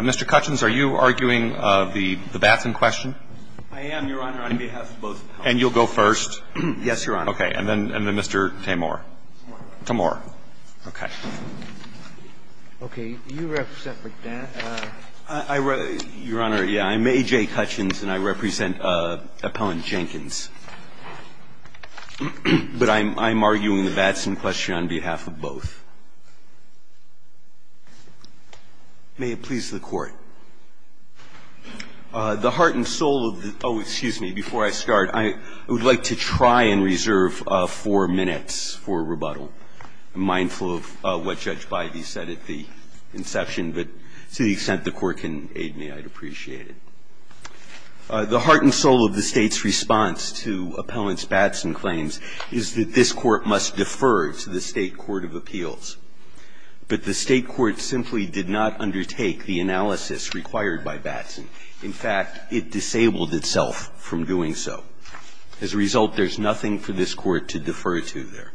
Mr. Cutchins, are you arguing the Batson question? I am, Your Honor, on behalf of both appellants. And you'll go first? Yes, Your Honor. Okay. And then Mr. Tamor. Tamor. Tamor. Okay. Okay. You represent McDaniels. Your Honor, yeah, I'm A.J. Cutchins, and I represent Appellant Jenkins. But I'm arguing the Batson question on behalf of both. May it please the Court. The heart and soul of the – oh, excuse me. Before I start, I would like to try and reserve four minutes for rebuttal. I'm mindful of what Judge Bidey said at the inception, but to the extent the Court can aid me, I'd appreciate it. The heart and soul of the State's response to Appellant's Batson claims is that this Court must defer to the State court of appeals. But the State court simply did not undertake the analysis required by Batson. In fact, it disabled itself from doing so. As a result, there's nothing for this Court to defer to there.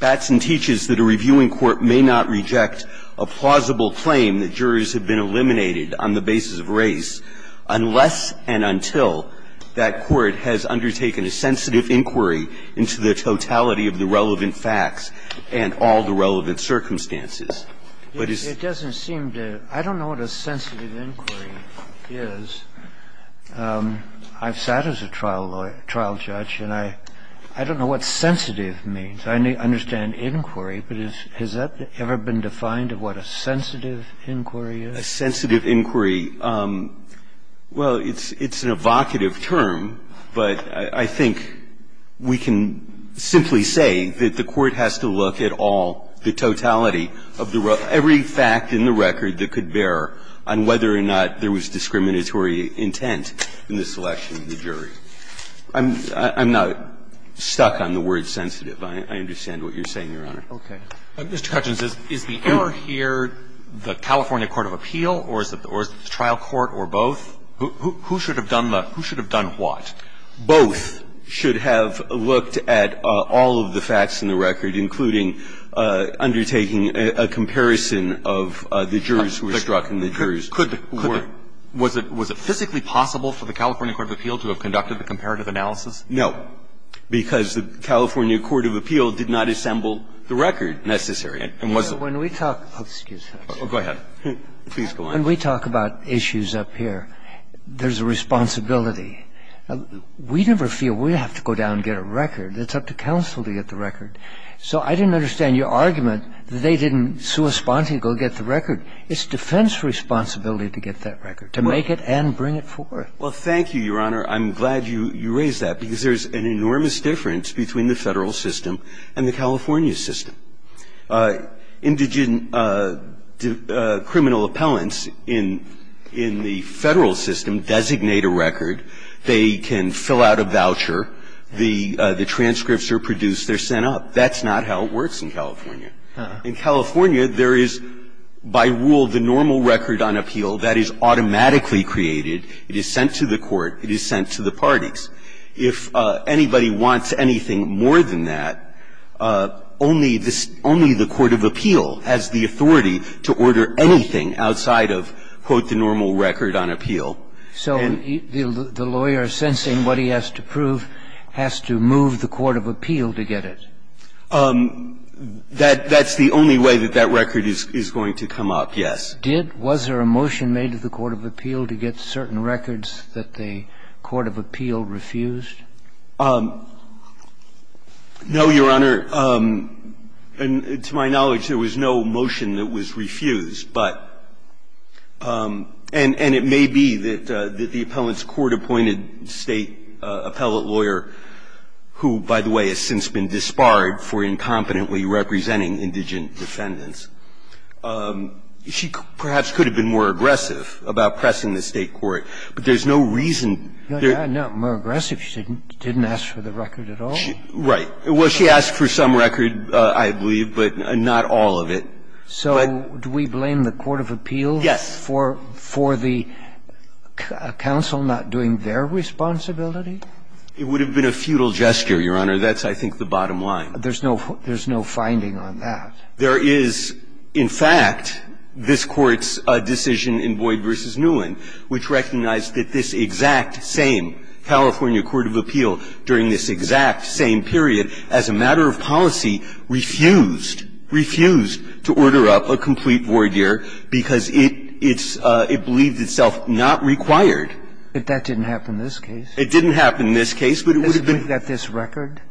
Batson teaches that a reviewing court may not reject a plausible claim that jurors have been eliminated on the basis of race unless and until that court has undertaken a sensitive inquiry into the totality of the relevant facts and all the relevant circumstances. It doesn't seem to – I don't know what a sensitive inquiry is. I've sat as a trial judge, and I don't know what sensitive means. I understand inquiry, but has that ever been defined of what a sensitive inquiry is? A sensitive inquiry. Well, it's an evocative term, but I think we can simply say that the Court has to look at all the totality of the – every fact in the record that could bear on whether or not there was discriminatory intent in the selection of the jury. I'm not stuck on the word sensitive. I understand what you're saying, Your Honor. Okay. Mr. Cutchins, is the error here the California court of appeal, or is it the trial court, or both? Who should have done the – who should have done what? Both should have looked at all of the facts in the record, including undertaking a comparison of the jurors who were struck and the jurors who weren't. Was it physically possible for the California court of appeal to have conducted the comparative analysis? No, because the California court of appeal did not assemble the record, necessarily. And was it – Well, when we talk – excuse us. Oh, go ahead. Please go on. When we talk about issues up here, there's a responsibility. We never feel we have to go down and get a record. It's up to counsel to get the record. So I didn't understand your argument that they didn't sui sponte go get the record. It's defense responsibility to get that record, to make it and bring it forth. Well, thank you, Your Honor. I'm glad you raised that, because there's an enormous difference between the Federal system and the California system. Indigent criminal appellants in the Federal system designate a record. They can fill out a voucher. The transcripts are produced. They're sent up. That's not how it works in California. In California, there is, by rule, the normal record on appeal that is automatically created. It is sent to the court. It is sent to the parties. If anybody wants anything more than that, only this – only the court of appeal has the authority to order anything outside of, quote, the normal record on appeal. So the lawyer, sensing what he has to prove, has to move the court of appeal to get it. That's the only way that that record is going to come up, yes. Did – was there a motion made to the court of appeal to get certain records that the court of appeal refused? No, Your Honor. And to my knowledge, there was no motion that was refused, but – and it may be that the appellant's court-appointed State appellate lawyer, who, by the way, has since been disbarred for incompetently representing indigent defendants, she perhaps could have been more aggressive about pressing the State court. But there's no reason. More aggressive? She didn't ask for the record at all? Right. Well, she asked for some record, I believe, but not all of it. So do we blame the court of appeal for the counsel not doing their responsibility? It would have been a futile gesture, Your Honor. That's, I think, the bottom line. There's no finding on that. There is, in fact, this Court's decision in Boyd v. Newen, which recognized that this exact same California court of appeal during this exact same period as a matter of policy refused, refused to order up a complete voir dire because it's – it believed itself not required. But that didn't happen in this case. It didn't happen in this case, but it would have been – Doesn't it mean that this record –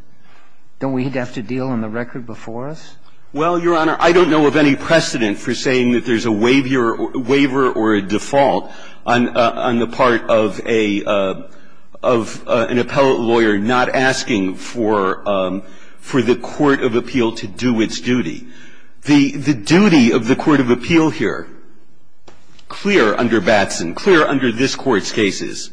don't we have to deal on the record before us? Well, Your Honor, I don't know of any precedent for saying that there's a waiver or a default on the part of a – of an appellate lawyer not asking for the court of appeal to do its duty. The duty of the court of appeal here, clear under Batson, clear under this Court's cases,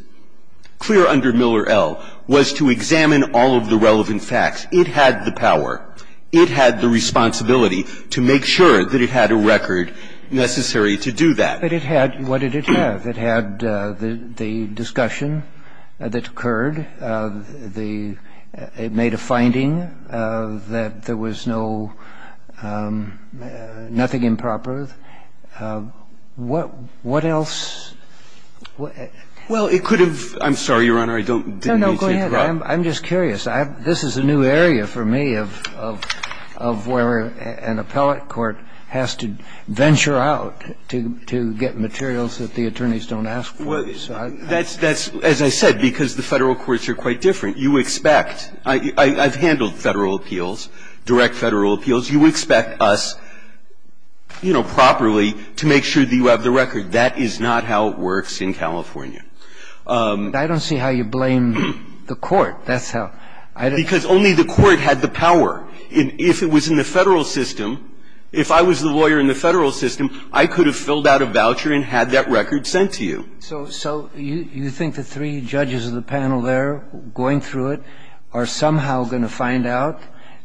clear under Miller L., was to examine all of the relevant facts. It had the power. It had the responsibility to make sure that it had a record necessary to do that. But it had – what did it have? It had the discussion that occurred. The – it made a finding that there was no – nothing improper. What else? Well, it could have – I'm sorry, Your Honor, I don't – No, no, go ahead. I'm just curious. I have – this is a new area for me of – of where an appellate court has to venture out to – to get materials that the attorneys don't ask for. Well, that's – that's, as I said, because the Federal courts are quite different. You expect – I've handled Federal appeals, direct Federal appeals. You expect us, you know, properly to make sure that you have the record. That is not how it works in California. I don't see how you blame the court. That's how – I don't – Because only the court had the power. If it was in the Federal system, if I was the lawyer in the Federal system, I could have filled out a voucher and had that record sent to you. So – so you think the three judges of the panel there going through it are somehow going to find out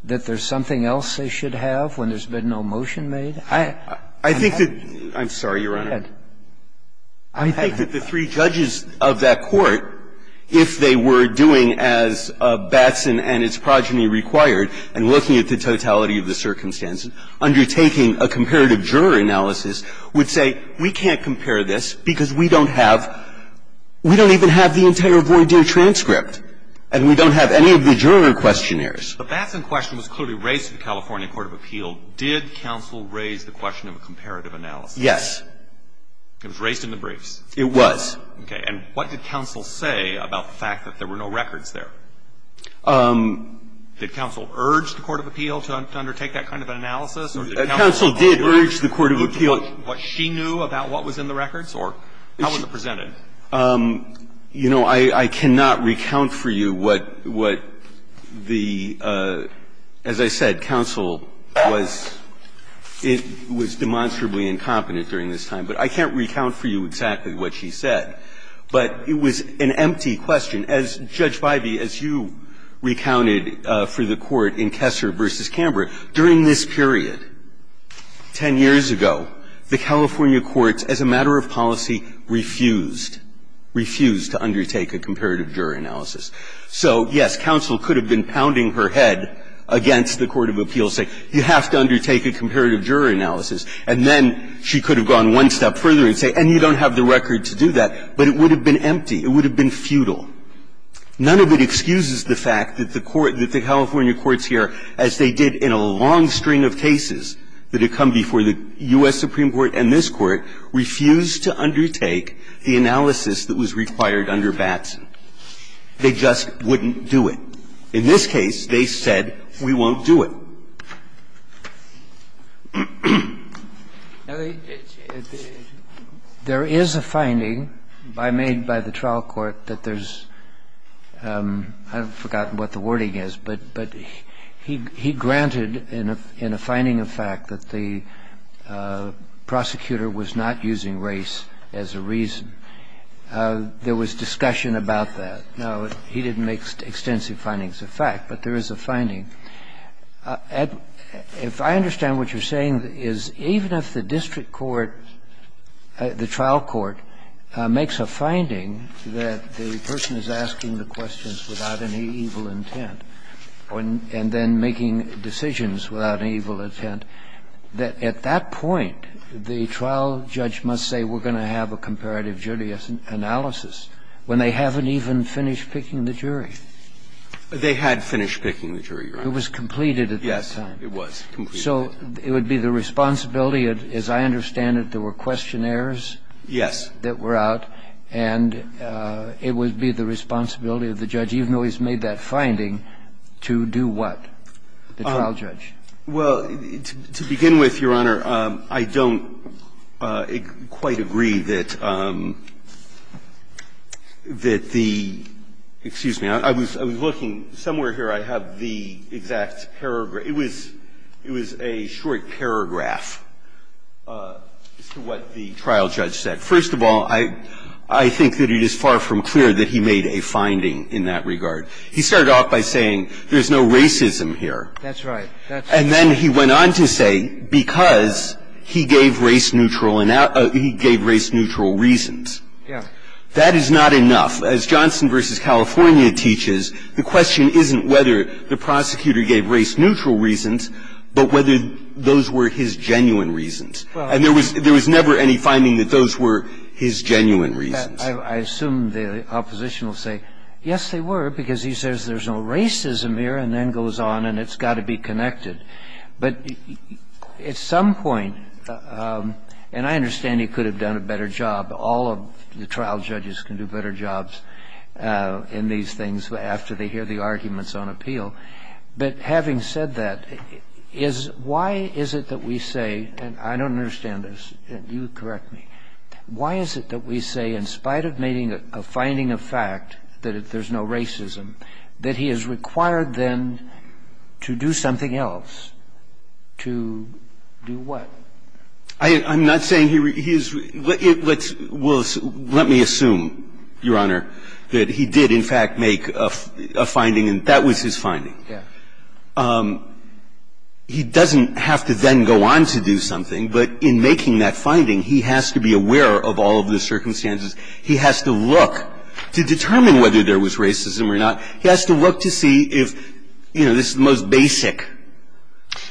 that there's something else they should have when there's been no motion made? I – I think that – I'm sorry, Your Honor. Go ahead. I think that the three judges of that court, if they were doing as Batson and its progeny required, and looking at the totality of the circumstances, undertaking a comparative juror analysis, would say, we can't compare this because we don't have – we don't even have the entire voir dire transcript, and we don't have any of the juror questionnaires. But the Batson question was clearly raised to the California court of appeal. Did counsel raise the question of a comparative analysis? Yes. It was raised in the briefs? It was. Okay. And what did counsel say about the fact that there were no records there? Did counsel urge the court of appeal to undertake that kind of an analysis? Counsel did urge the court of appeal. What she knew about what was in the records? Or how was it presented? You know, I cannot recount for you what the – as I said, counsel was – it was demonstrably incompetent during this time, but I can't recount for you exactly what she said. But it was an empty question. As, Judge Bybee, as you recounted for the court in Kessler v. Canberra, during this period, 10 years ago, the California courts, as a matter of policy, refused – refused to undertake a comparative juror analysis. So, yes, counsel could have been pounding her head against the court of appeal, saying, you have to undertake a comparative juror analysis. And then she could have gone one step further and say, and you don't have the record to do that. But it would have been empty. It would have been futile. None of it excuses the fact that the court – that the California courts here, as they did in a long string of cases that had come before the U.S. Supreme Court and this Court, refused to undertake the analysis that was required under Batson. They just wouldn't do it. In this case, they said, we won't do it. And that's the reason why the court refused to undertake the analysis that was required under Batson. Now, there is a finding made by the trial court that there's – I've forgotten what the wording is, but he granted, in a finding of fact, that the prosecutor was not using race as a reason. There was discussion about that. Now, he didn't make extensive findings of fact, but there is a finding. If I understand what you're saying, is even if the district court, the trial court makes a finding that the person is asking the questions without any evil intent and then making decisions without any evil intent, that at that point, the trial judge must say, we're going to have a comparative jury analysis, when they haven't even finished picking the jury? They had finished picking the jury, Your Honor. It was completed at that time. Yes, it was completed. So it would be the responsibility, as I understand it, there were questionnaires? Yes. That were out. And it would be the responsibility of the judge, even though he's made that finding, to do what, the trial judge? Well, to begin with, Your Honor, I don't quite agree that the – excuse me. I was looking. Somewhere here I have the exact paragraph. It was a short paragraph as to what the trial judge said. First of all, I think that it is far from clear that he made a finding in that regard. He started off by saying there's no racism here. That's right. And then he went on to say, because he gave race-neutral reasons. Yes. That is not enough. As Johnson v. California teaches, the question isn't whether the prosecutor gave race-neutral reasons, but whether those were his genuine reasons. And there was never any finding that those were his genuine reasons. I assume the opposition will say, yes, they were, because he says there's no racism here, and then goes on, and it's got to be connected. But at some point – and I understand he could have done a better job. All of the trial judges can do better jobs in these things after they hear the arguments on appeal. But having said that, is – why is it that we say – and I don't understand this. You correct me. Why is it that we say, in spite of finding a fact that there's no racism, that he is required, then, to do something else? To do what? I'm not saying he is – let's – let me assume, Your Honor, that he did, in fact, make a finding, and that was his finding. Yes. He doesn't have to then go on to do something. But in making that finding, he has to be aware of all of the circumstances. He has to look to determine whether there was racism or not. He has to look to see if, you know, this is the most basic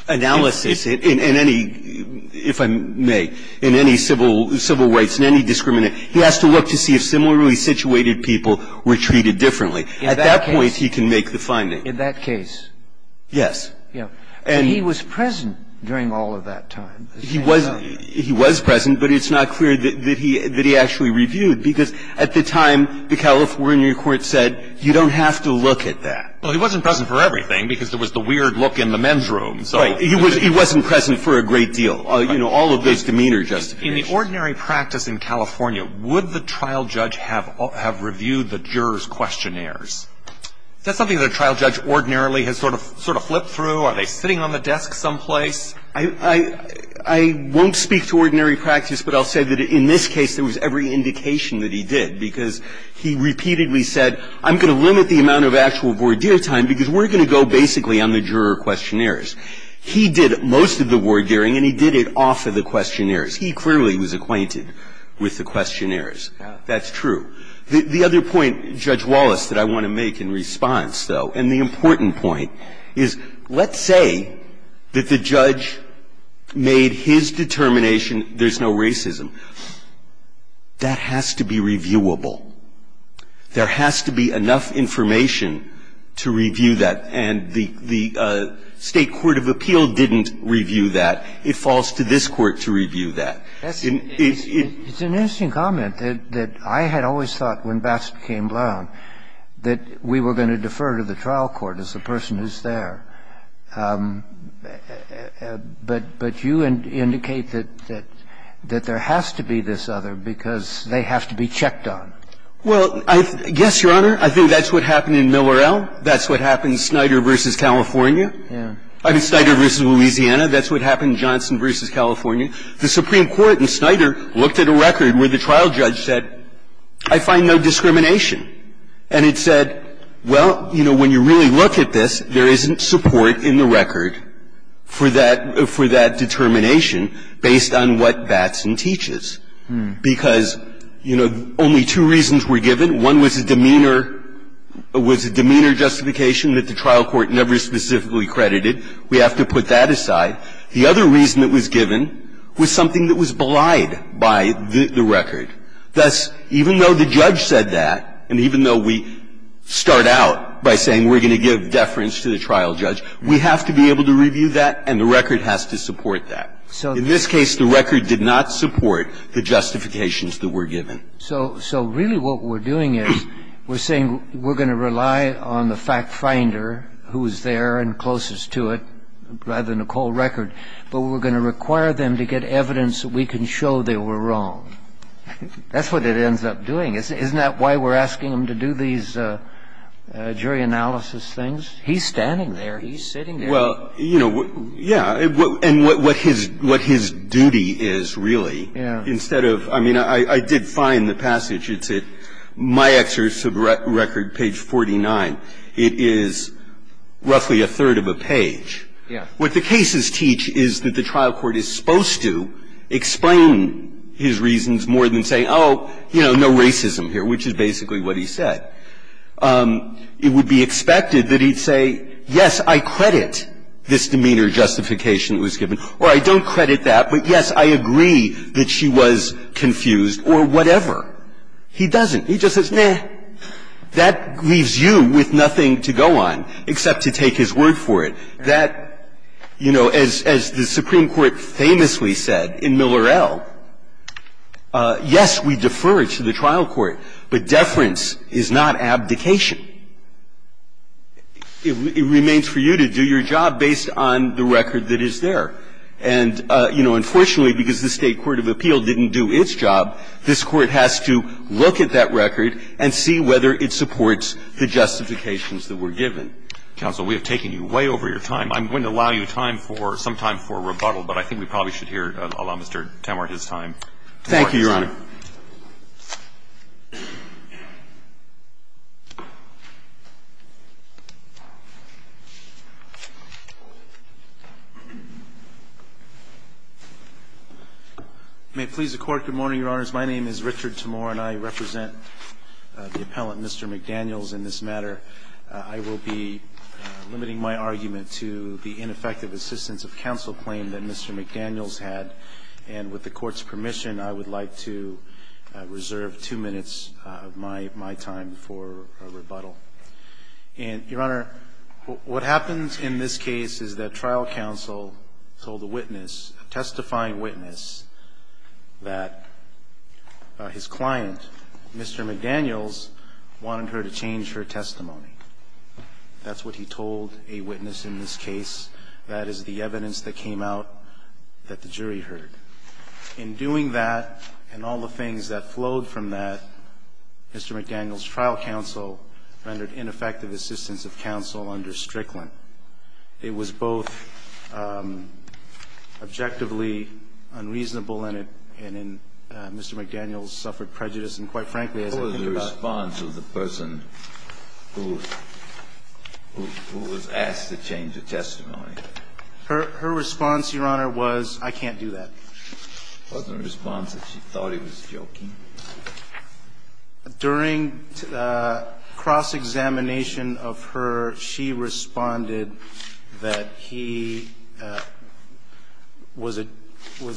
analysis in any – if I may – in any civil rights, in any discriminant. He has to look to see if similarly situated people were treated differently. At that point, he can make the finding. In that case. Yes. Yes. And he was present during all of that time. He was – he was present, but it's not clear that he actually reviewed. Because at the time, the California court said, you don't have to look at that. Well, he wasn't present for everything, because there was the weird look in the men's room. Right. He wasn't present for a great deal. You know, all of those demeanor justifications. In the ordinary practice in California, would the trial judge have reviewed the juror's questionnaires? Is that something that a trial judge ordinarily has sort of flipped through? Are they sitting on the desk someplace? I won't speak to ordinary practice, but I'll say that in this case, there was every indication that he did. Because he repeatedly said, I'm going to limit the amount of actual voir dire time, because we're going to go basically on the juror questionnaires. He did most of the voir dire-ing, and he did it off of the questionnaires. He clearly was acquainted with the questionnaires. That's true. The other point, Judge Wallace, that I want to make in response, though, and the important point, is let's say that the judge made his determination, there's no racism. That has to be reviewable. There has to be enough information to review that. And the State Court of Appeal didn't review that. It falls to this Court to review that. It's an interesting comment, that I had always thought when Bass became Blount that we were going to defer to the trial court as the person who's there. But you indicate that there has to be this other, because they have to be checked on. Well, I guess, Your Honor, I think that's what happened in Millerell. That's what happened in Snyder v. California. I mean, Snyder v. Louisiana. That's what happened in Johnson v. California. The Supreme Court in Snyder looked at a record where the trial judge said, I find no discrimination. And it said, well, you know, when you really look at this, there isn't support in the record for that determination based on what Batson teaches. Because, you know, only two reasons were given. One was a demeanor justification that the trial court never specifically credited. We have to put that aside. The other reason that was given was something that was belied by the record. Thus, even though the judge said that, and even though we start out by saying we're going to give deference to the trial judge, we have to be able to review that, and the record has to support that. In this case, the record did not support the justifications that were given. So really what we're doing is we're saying we're going to rely on the fact finder who's there and closest to it rather than a cold record. But we're going to require them to get evidence that we can show they were wrong. That's what it ends up doing. Isn't that why we're asking them to do these jury analysis things? He's standing there. He's sitting there. Well, you know, yeah. And what his duty is, really, instead of – I mean, I did find the passage. It's at my exercise of record, page 49. It is roughly a third of a page. Yeah. What the cases teach is that the trial court is supposed to explain his reasons more than say, oh, you know, no racism here, which is basically what he said. It would be expected that he'd say, yes, I credit this demeanor justification that was given, or I don't credit that, but, yes, I agree that she was confused or whatever. He doesn't. He just says, nah, that leaves you with nothing to go on except to take his word for it. That, you know, as the Supreme Court famously said in Miller-El, yes, we defer it to the trial court, but deference is not abdication. It remains for you to do your job based on the record that is there. And, you know, unfortunately, because the State court of appeal didn't do its job, this Court has to look at that record and see whether it supports the justifications that were given. Counsel, we have taken you way over your time. I'm going to allow you time for some time for rebuttal, but I think we probably should hear, allow Mr. Tamor his time. Thank you, Your Honor. May it please the Court. Good morning, Your Honors. My name is Richard Tamor, and I represent the appellant, Mr. McDaniels, in this I'm going to be limiting my argument to the ineffective assistance of counsel claim that Mr. McDaniels had. And with the Court's permission, I would like to reserve two minutes of my time for rebuttal. And, Your Honor, what happens in this case is that trial counsel told a witness, a testifying witness, that his client, Mr. McDaniels, wanted her to change her testimony. That's what he told a witness in this case. That is the evidence that came out that the jury heard. In doing that, and all the things that flowed from that, Mr. McDaniels' trial counsel rendered ineffective assistance of counsel under Strickland. It was both objectively unreasonable and Mr. McDaniels suffered prejudice. And quite frankly, as I think about it ---- What was the response of the person who was asked to change her testimony? Her response, Your Honor, was, I can't do that. Wasn't her response that she thought he was joking? During cross-examination of her, she responded that he was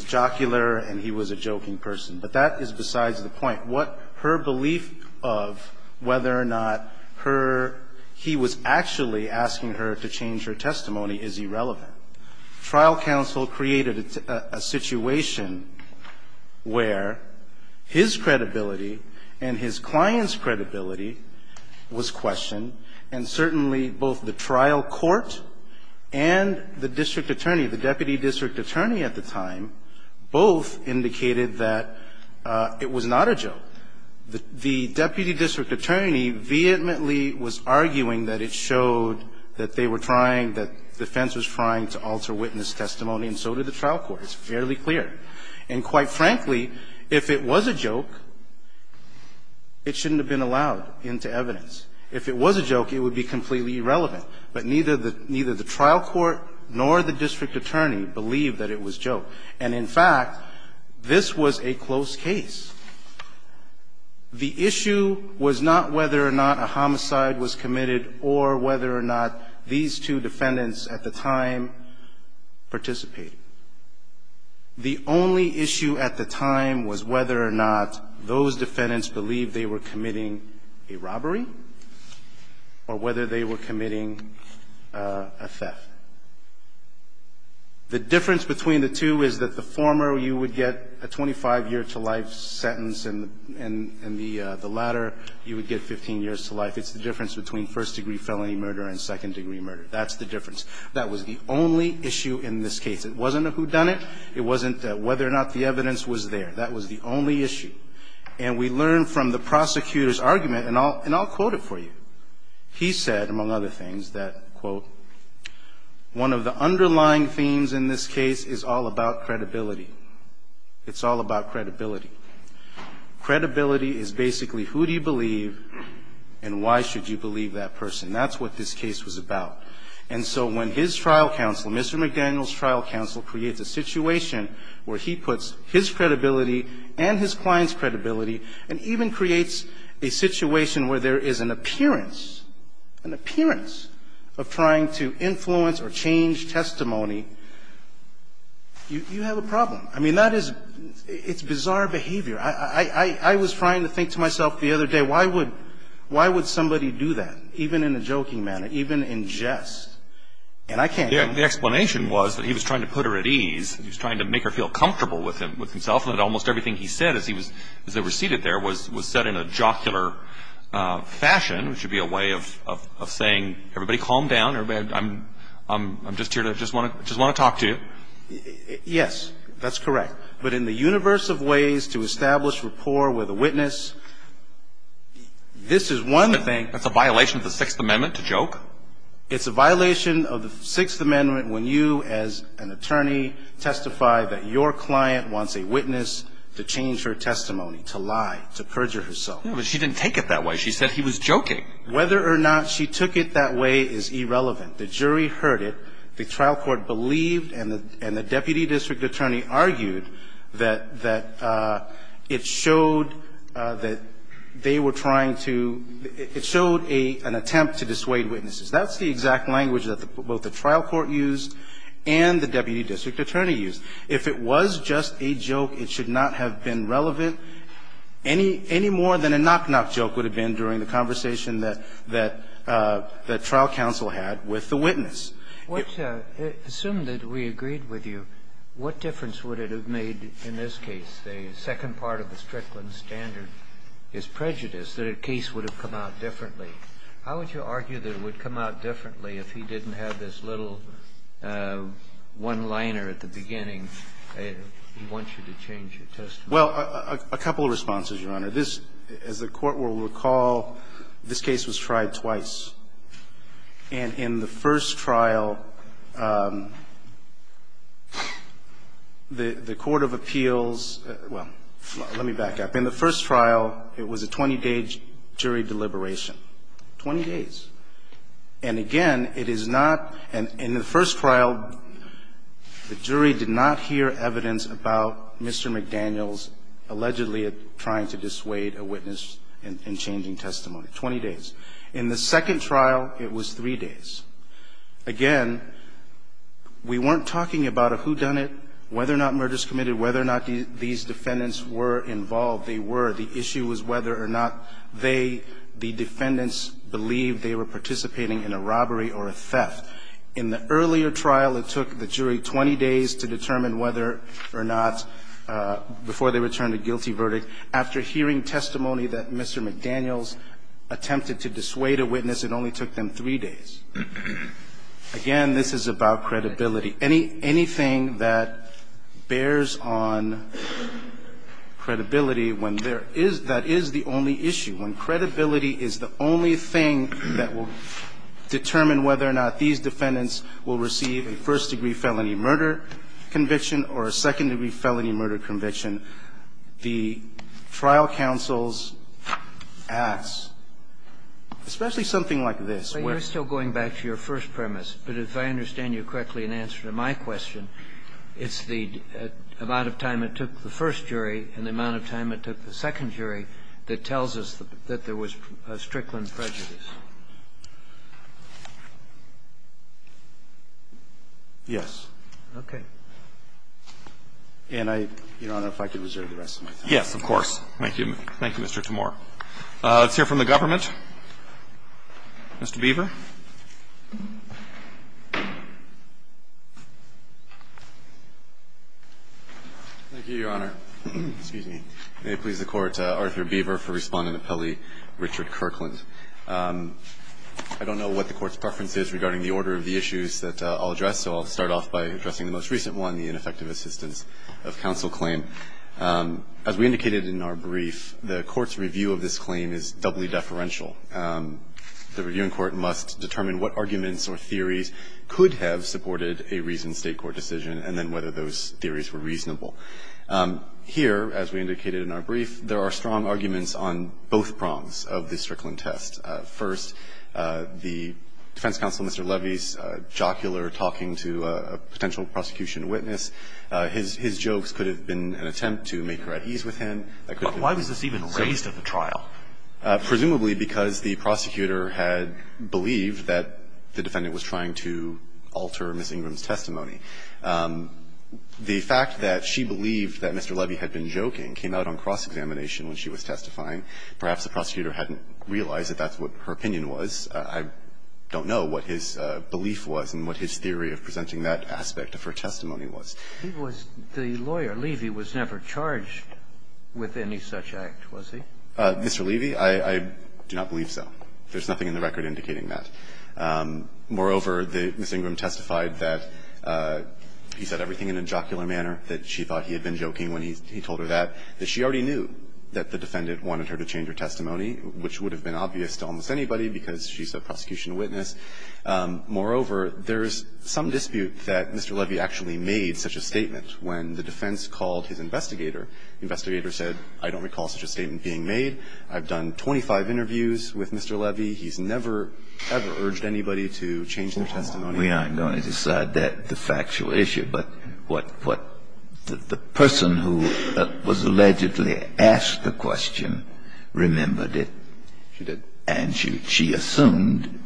jocular and he was a joking person. But that is besides the point. What her belief of whether or not her ---- he was actually asking her to change her testimony is irrelevant. Trial counsel created a situation where his credibility and his client's credibility was questioned, and certainly both the trial court and the district attorney, the deputy district attorney at the time, both indicated that it was not a joke. The deputy district attorney vehemently was arguing that it showed that they were trying, that defense was trying to alter witness testimony, and so did the trial court. It's fairly clear. And quite frankly, if it was a joke, it shouldn't have been allowed into evidence. If it was a joke, it would be completely irrelevant. But neither the trial court nor the district attorney believed that it was joke. And in fact, this was a close case. The issue was not whether or not a homicide was committed or whether or not these two defendants at the time participated. The only issue at the time was whether or not those defendants believed they were committing a theft. The difference between the two is that the former, you would get a 25-year-to-life sentence, and the latter, you would get 15 years to life. It's the difference between first-degree felony murder and second-degree murder. That's the difference. That was the only issue in this case. It wasn't a whodunit. It wasn't whether or not the evidence was there. That was the only issue. And we learned from the prosecutor's argument, and I'll quote it for you. He said, among other things, that, quote, one of the underlying themes in this case is all about credibility. It's all about credibility. Credibility is basically who do you believe and why should you believe that person. That's what this case was about. And so when his trial counsel, Mr. McDaniel's trial counsel, creates a situation where he puts his credibility and his client's credibility and even creates a situation where there is an appearance, an appearance of trying to influence or change testimony, you have a problem. I mean, that is — it's bizarre behavior. I was trying to think to myself the other day, why would — why would somebody do that, even in a joking manner, even in jest? And I can't do it. The explanation was that he was trying to put her at ease. He was trying to make her feel comfortable with himself, and that almost everything he said as he was — as they were seated there was said in a jocular fashion, which would be a way of saying, everybody calm down. I'm just here to — just want to talk to you. Yes. That's correct. But in the universe of ways to establish rapport with a witness, this is one thing. That's a violation of the Sixth Amendment to joke? And I'm not saying that the attorney testified that your client wants a witness to change her testimony, to lie, to perjure herself. But she didn't take it that way. She said he was joking. Whether or not she took it that way is irrelevant. The jury heard it. The trial court believed and the deputy district attorney argued that — that it showed that they were trying to — it showed a — an attempt to dissuade witnesses. That's the exact language that both the trial court used and the deputy district attorney used. If it was just a joke, it should not have been relevant any — any more than a knock-knock joke would have been during the conversation that — that trial counsel had with the witness. Assume that we agreed with you. What difference would it have made in this case? The second part of the Strickland standard is prejudice, that a case would have come out differently. How would you argue that it would come out differently if he didn't have this little one-liner at the beginning, he wants you to change your testimony? Well, a couple of responses, Your Honor. This, as the court will recall, this case was tried twice. And in the first trial, the court of appeals — well, let me back up. In the first trial, it was a 20-day jury deliberation, 20 days. And again, it is not — in the first trial, the jury did not hear evidence about Mr. McDaniels allegedly trying to dissuade a witness in changing testimony, 20 days. In the second trial, it was three days. Again, we weren't talking about a whodunit, whether or not murders committed, whether or not these defendants were involved. They were. The issue was whether or not they, the defendants, believed they were participating in a robbery or a theft. In the earlier trial, it took the jury 20 days to determine whether or not, before they returned a guilty verdict. After hearing testimony that Mr. McDaniels attempted to dissuade a witness, it only took them three days. Again, this is about credibility. Anything that bears on credibility when there is — that is the only issue, when credibility is the only thing that will determine whether or not these defendants will receive a first-degree felony murder conviction or a second-degree felony murder conviction, the trial counsel's acts, especially something like this — Kennedy, you're still going back to your first premise. But if I understand you correctly in answer to my question, it's the amount of time it took the first jury and the amount of time it took the second jury that tells us that there was a Strickland prejudice. Yes. Okay. And I don't know if I can reserve the rest of my time. Yes, of course. Thank you, Mr. Timore. Let's hear from the government. Mr. Beaver. Thank you, Your Honor. Excuse me. May it please the Court, Arthur Beaver, for Respondent Appellee Richard Kirkland. I don't know what the Court's preference is regarding the order of the issues that I'll address, so I'll start off by addressing the most recent one, the ineffective assistance of counsel claim. As we indicated in our brief, the Court's review of this claim is doubly deferential. The reviewing court must determine what arguments or theories could have supported a recent State court decision and then whether those theories were reasonable. Here, as we indicated in our brief, there are strong arguments on both prongs of this Strickland test. First, the defense counsel, Mr. Levy's jocular talking to a potential prosecution witness. His jokes could have been an attempt to make her at ease with him. I couldn't think of any other. Why was this even raised at the trial? Presumably because the prosecutor had believed that the defendant was trying to alter Ms. Ingram's testimony. The fact that she believed that Mr. Levy had been joking came out on cross-examination when she was testifying. Perhaps the prosecutor hadn't realized that that's what her opinion was. I don't know what his belief was and what his theory of presenting that aspect of her testimony was. He was the lawyer. Levy was never charged with any such act, was he? Mr. Levy, I do not believe so. There's nothing in the record indicating that. Moreover, Ms. Ingram testified that he said everything in a jocular manner, that she thought he had been joking when he told her that, that she already knew that the defendant wanted her to change her testimony, which would have been obvious to almost anybody because she's a prosecution witness. Moreover, there's some dispute that Mr. Levy actually made such a statement when the defense called his investigator. The investigator said, I don't recall such a statement being made. I've done 25 interviews with Mr. Levy. He's never, ever urged anybody to change their testimony. We aren't going to decide that, the factual issue. But what the person who was allegedly asked the question remembered it. She did. And she assumed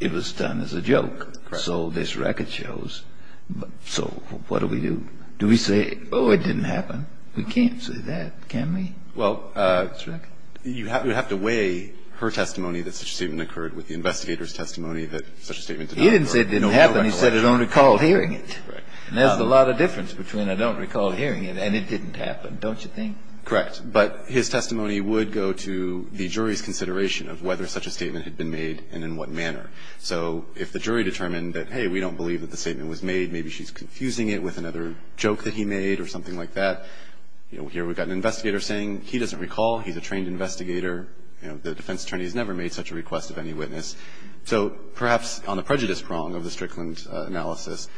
it was done as a joke. So this record shows. So what do we do? Do we say, oh, it didn't happen? We can't say that, can we? Well, you have to weigh her testimony that such a statement occurred with the investigator's testimony that such a statement did not occur. He didn't say it didn't happen. He said, I don't recall hearing it. There's a lot of difference between I don't recall hearing it and it didn't happen, don't you think? Correct. But his testimony would go to the jury's consideration of whether such a statement had been made and in what manner. So if the jury determined that, hey, we don't believe that the statement was made, maybe she's confusing it with another joke that he made or something like that. Here we've got an investigator saying he doesn't recall. He's a trained investigator. The defense attorney has never made such a request of any witness. So perhaps on the prejudice prong of the Strickland analysis,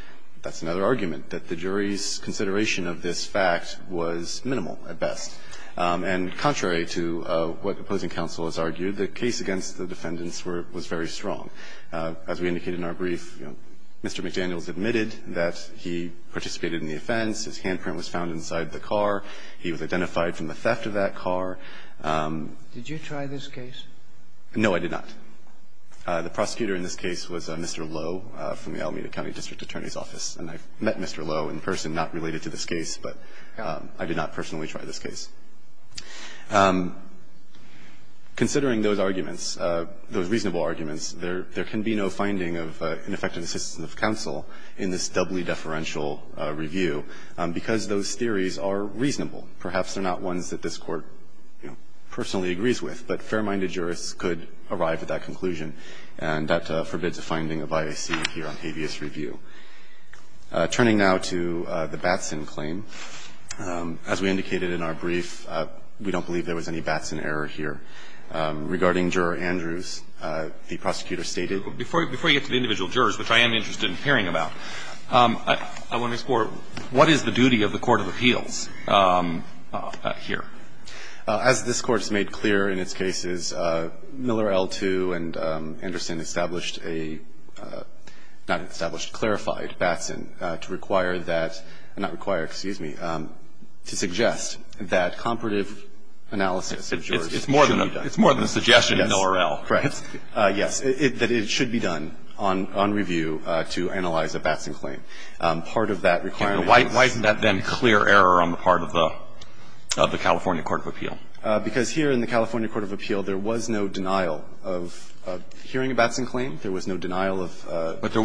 that's another argument, that the jury's consideration of this fact was minimal at best. And contrary to what opposing counsel has argued, the case against the defendants was very strong. As we indicated in our brief, you know, Mr. McDaniels admitted that he participated in the offense. His handprint was found inside the car. He was identified from the theft of that car. Did you try this case? No, I did not. The prosecutor in this case was Mr. Lowe from the Alameda County District Attorney's Office. And I met Mr. Lowe in person, not related to this case, but I did not personally try this case. Considering those arguments, those reasonable arguments, there can be no finding of ineffective assistance of counsel in this doubly deferential review because those theories are reasonable. Perhaps they're not ones that this Court, you know, personally agrees with, but fair-minded jurists could arrive at that conclusion, and that forbids a finding of bias here on habeas review. Turning now to the Batson claim, as we indicated in our brief, we don't believe there was any Batson error here. Regarding Juror Andrews, the prosecutor stated that Before you get to the individual jurors, which I am interested in hearing about, I want to explore what is the duty of the Court of Appeals here? As this Court has made clear in its cases, Miller L2 and Anderson established a not established, clarified Batson to require that, not require, excuse me, to suggest that comparative analysis of jurors should be done. It's more than a suggestion in the URL. Correct. Yes. That it should be done on review to analyze a Batson claim. Part of that requirement is Why isn't that then clear error on the part of the California Court of Appeal? Because here in the California Court of Appeal, there was no denial of hearing a Batson claim. There was no denial of But there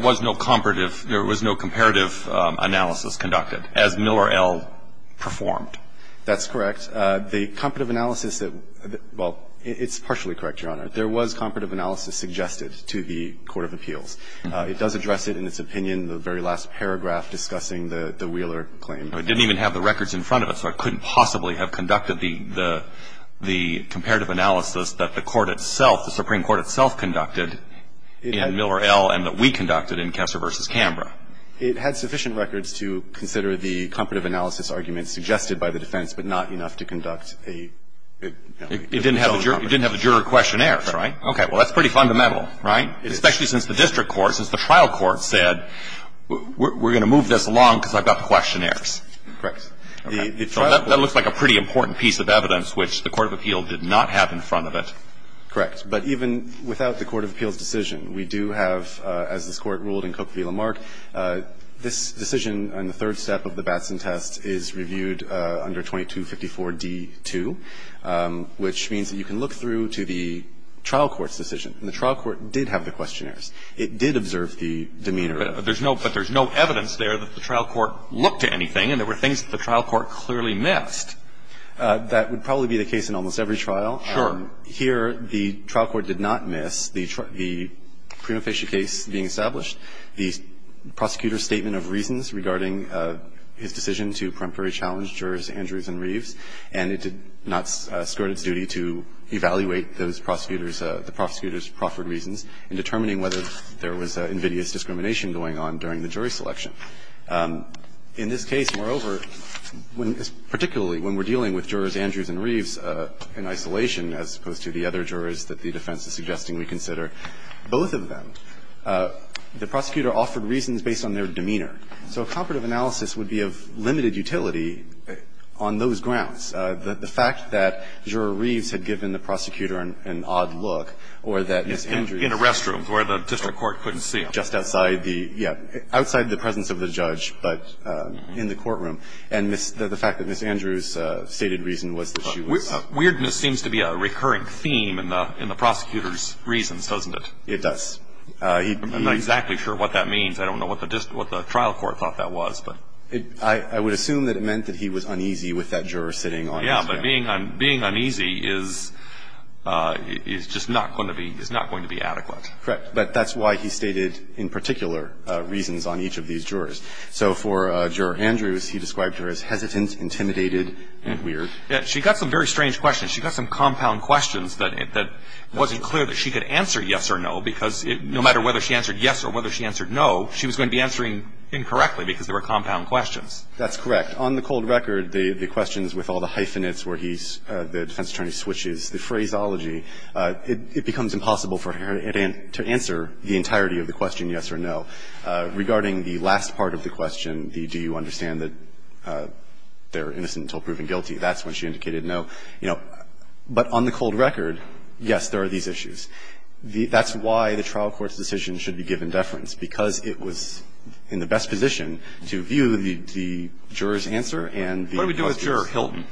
was no comparative analysis conducted, as Miller L performed. That's correct. The comparative analysis that – well, it's partially correct, Your Honor. There was comparative analysis suggested to the Court of Appeals. It does address it in its opinion, the very last paragraph discussing the Wheeler claim. It didn't even have the records in front of it, so I couldn't possibly have conducted the comparative analysis that the Court itself, the Supreme Court itself conducted in Miller L. and that we conducted in Kessler v. Canberra. It had sufficient records to consider the comparative analysis arguments suggested by the defense, but not enough to conduct a It didn't have the juror questionnaires, right? Okay. Well, that's pretty fundamental, right? Especially since the district court, since the trial court said, we're going to move this along because I've got the questionnaires. Correct. The trial court That looks like a pretty important piece of evidence, which the Court of Appeal did not have in front of it. Correct. But even without the Court of Appeal's decision, we do have, as this Court ruled in Cook v. Lamarck, this decision on the third step of the Batson test is reviewed under 2254d-2, which means that you can look through to the trial court's decision. And the trial court did have the questionnaires. It did observe the demeanor of But there's no evidence there that the trial court looked at anything, and there were things that the trial court clearly missed. That would probably be the case in almost every trial. Sure. Here, the trial court did not miss the prima facie case being established, the prosecutor's statement of reasons regarding his decision to preemptory challenge jurors Andrews and Reeves, and it did not skirt its duty to evaluate those prosecutors, the prosecutors' proffered reasons in determining whether there was invidious discrimination going on during the jury selection. In this case, moreover, particularly when we're dealing with jurors Andrews and Reeves in isolation as opposed to the other jurors that the defense is suggesting we consider, both of them, the prosecutor offered reasons based on their demeanor. So a comparative analysis would be of limited utility on those grounds. The fact that Juror Reeves had given the prosecutor an odd look or that Ms. Andrews In a restroom where the district court couldn't see him. Just outside the, yeah, outside the presence of the judge, but in the courtroom. And the fact that Ms. Andrews stated reason was that she was. Weirdness seems to be a recurring theme in the prosecutor's reasons, doesn't it? It does. I'm not exactly sure what that means. I don't know what the trial court thought that was. I would assume that it meant that he was uneasy with that juror sitting on his desk. Yeah, but being uneasy is just not going to be adequate. Correct. But that's why he stated in particular reasons on each of these jurors. So for Juror Andrews, he described her as hesitant, intimidated, and weird. Yeah, she got some very strange questions. She got some compound questions that wasn't clear that she could answer yes or no, because no matter whether she answered yes or whether she answered no, she was going to be answering incorrectly because there were compound questions. That's correct. On the cold record, the questions with all the hyphenates where he's, the defense attorney switches the phraseology. It becomes impossible for her to answer the entirety of the question yes or no. Regarding the last part of the question, the do you understand that they're innocent until proven guilty, that's when she indicated no. But on the cold record, yes, there are these issues. That's why the trial court's decision should be given deference, because it was in the best position to view the juror's answer and the prosecutor's. What do we do with Juror Hilton?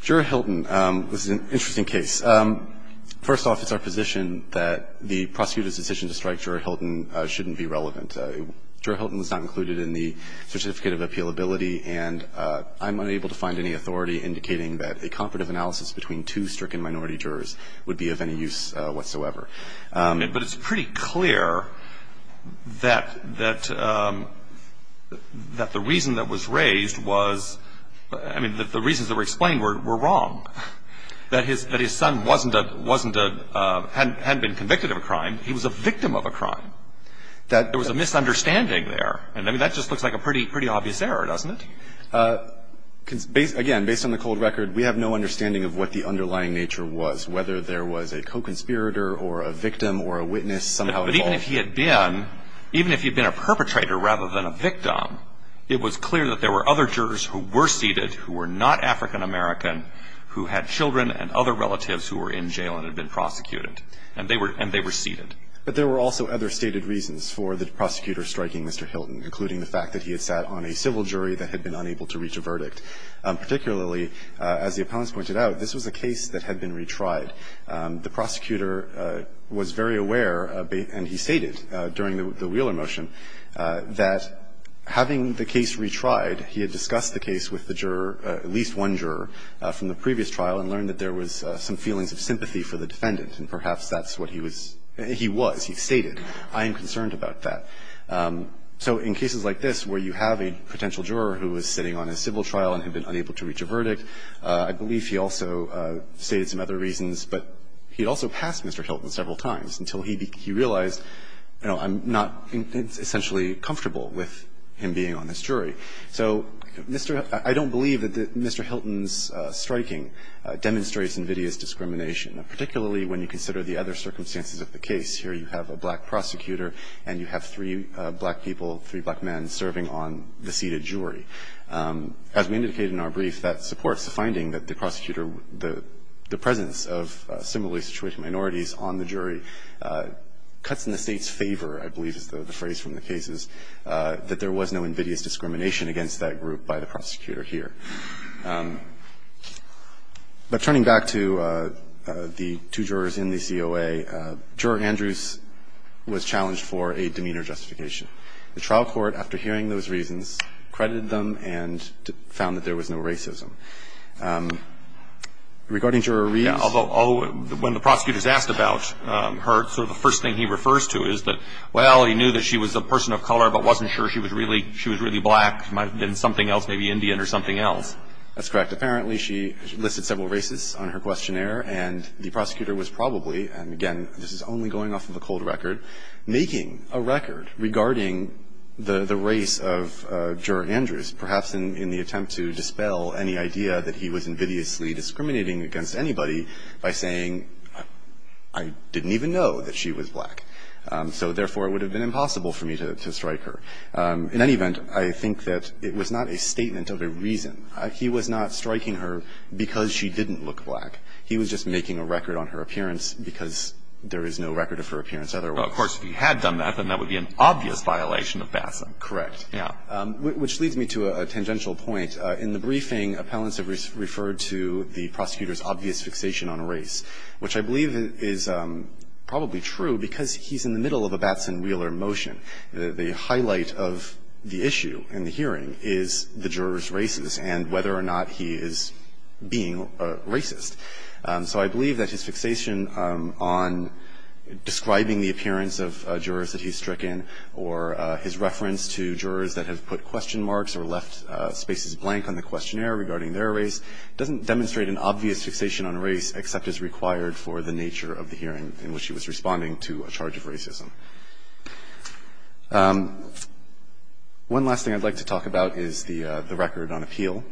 Juror Hilton, this is an interesting case. First off, it's our position that the prosecutor's decision to strike Juror Hilton shouldn't be relevant. Juror Hilton was not included in the certificate of appealability, and I'm unable to find any authority indicating that a comparative analysis between two stricken minority jurors would be of any use whatsoever. But it's pretty clear that the reason that was raised was, I mean, the reasons that were explained were wrong, that his son wasn't a, hadn't been convicted of a crime. He was a victim of a crime. That there was a misunderstanding there, and I mean, that just looks like a pretty obvious error, doesn't it? Again, based on the cold record, we have no understanding of what the underlying nature was, whether there was a co-conspirator or a victim or a witness somehow involved. But even if he had been, even if he had been a perpetrator rather than a victim, it was clear that there were other jurors who were seated who were not African-American who had children and other relatives who were in jail and had been prosecuted, and they were seated. But there were also other stated reasons for the prosecutor striking Mr. Hilton, including the fact that he had sat on a civil jury that had been unable to reach a verdict. Particularly, as the appellants pointed out, this was a case that had been retried. The prosecutor was very aware, and he stated during the Wheeler motion, that having the case retried, he had discussed the case with the juror, at least one juror, from And perhaps that's what he was he was. He stated, I am concerned about that. So in cases like this where you have a potential juror who was sitting on a civil trial and had been unable to reach a verdict, I believe he also stated some other reasons. But he also passed Mr. Hilton several times until he realized, you know, I'm not essentially comfortable with him being on this jury. So, Mr. Hilton, I don't believe that Mr. Hilton's striking demonstrates invidious discrimination. Particularly when you consider the other circumstances of the case. Here you have a black prosecutor and you have three black people, three black men, serving on the seated jury. As we indicated in our brief, that supports the finding that the prosecutor the presence of similarly situated minorities on the jury cuts in the State's favor, I believe is the phrase from the cases, that there was no invidious discrimination against that group by the prosecutor here. But turning back to the two jurors in the COA, Juror Andrews was challenged for a demeanor justification. The trial court, after hearing those reasons, credited them and found that there was no racism. Regarding Juror Reeds… Yeah, although when the prosecutor's asked about her, sort of the first thing he refers to is that, well, he knew that she was a person of color, but wasn't sure she was really black, might have been something else, maybe Indian or something else. That's correct. Apparently, she listed several races on her questionnaire, and the prosecutor was probably, and again, this is only going off of a cold record, making a record regarding the race of Juror Andrews, perhaps in the attempt to dispel any idea that he was invidiously discriminating against anybody by saying, I didn't even know that she was black, so therefore, it would have been impossible for me to strike her. In any event, I think that it was not a statement of a reason, but it was a statement of a reason. He was not striking her because she didn't look black. He was just making a record on her appearance because there is no record of her appearance otherwise. Well, of course, if he had done that, then that would be an obvious violation of Batson. Correct. Yeah. Which leads me to a tangential point. In the briefing, appellants have referred to the prosecutor's obvious fixation on race, which I believe is probably true because he's in the middle of a Batson-Wheeler motion. The highlight of the issue in the hearing is the juror's race and whether or not he is being a racist. So I believe that his fixation on describing the appearance of jurors that he's stricken or his reference to jurors that have put question marks or left spaces blank on the questionnaire regarding their race doesn't demonstrate an obvious fixation on race except as required for the nature of the hearing in which he was responding to a charge of racism. One last thing I'd like to talk about is the record on appeal.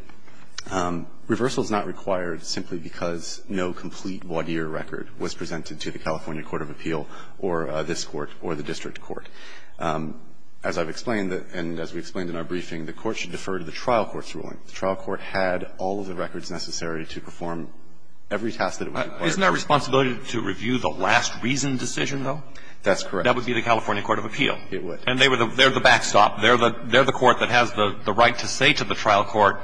Reversal is not required simply because no complete voir dire record was presented to the California Court of Appeal or this Court or the district court. As I've explained and as we explained in our briefing, the Court should defer to the trial court's ruling. The trial court had all of the records necessary to perform every task that it was required to do. Isn't that responsibility to review the last reasoned decision, though? That's correct. That would be the California Court of Appeal. It would. And they're the backstop. They're the court that has the right to say to the trial court,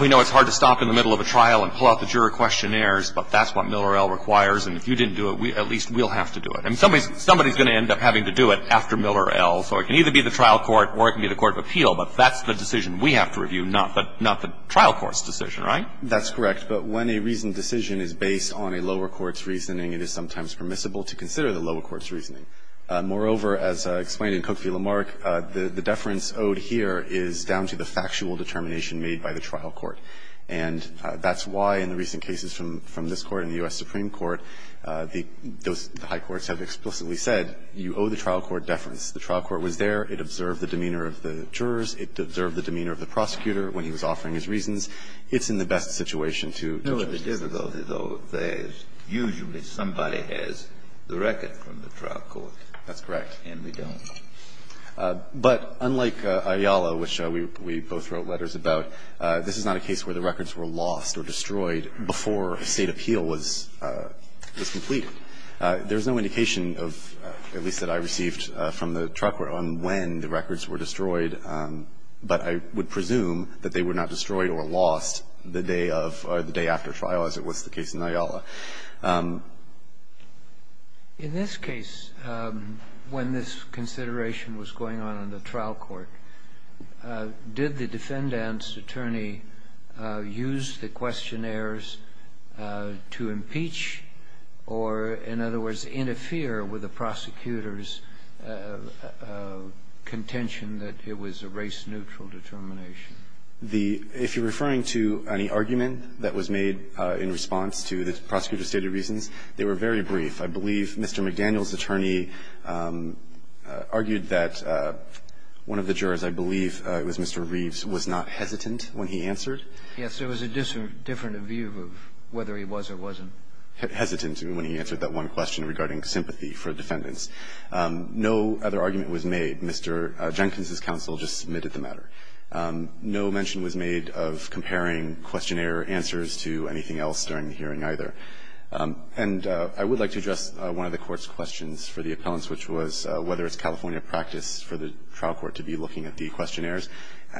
we know it's hard to stop in the middle of a trial and pull out the juror questionnaires, but that's what Miller L. requires, and if you didn't do it, at least we'll have to do it. And somebody's going to end up having to do it after Miller L., so it can either be the trial court or it can be the Court of Appeal, but that's the decision we have to review, not the trial court's decision, right? That's correct. But when a reasoned decision is based on a lower court's reasoning, it is sometimes permissible to consider the lower court's reasoning. Moreover, as I explained in Cook v. Lamarck, the deference owed here is down to the factual determination made by the trial court. And that's why in the recent cases from this Court and the U.S. Supreme Court, the high courts have explicitly said you owe the trial court deference. The trial court was there. It observed the demeanor of the jurors. It observed the demeanor of the prosecutor when he was offering his reasons. It's in the best situation to judge a case. No, the difficulty, though, is usually somebody has the record from the trial court. That's correct. And we don't. But unlike Ayala, which we both wrote letters about, this is not a case where the records were lost or destroyed before a State appeal was completed. There's no indication of, at least that I received from the trial court, on when the records were destroyed. But I would presume that they were not destroyed or lost the day of or the day after trial, as it was the case in Ayala. In this case, when this consideration was going on in the trial court, did the defendant's questionnaires to impeach or, in other words, interfere with the prosecutor's contention that it was a race-neutral determination? If you're referring to any argument that was made in response to the prosecutor's stated reasons, they were very brief. I believe Mr. McDaniel's attorney argued that one of the jurors, I believe it was Mr. Reeves, was not hesitant when he answered. Yes, there was a different view of whether he was or wasn't. Hesitant when he answered that one question regarding sympathy for defendants. No other argument was made. Mr. Jenkins' counsel just submitted the matter. No mention was made of comparing questionnaire answers to anything else during the hearing either. And I would like to address one of the Court's questions for the appellants, which was whether it's California practice for the trial court to be looking at the questionnaires.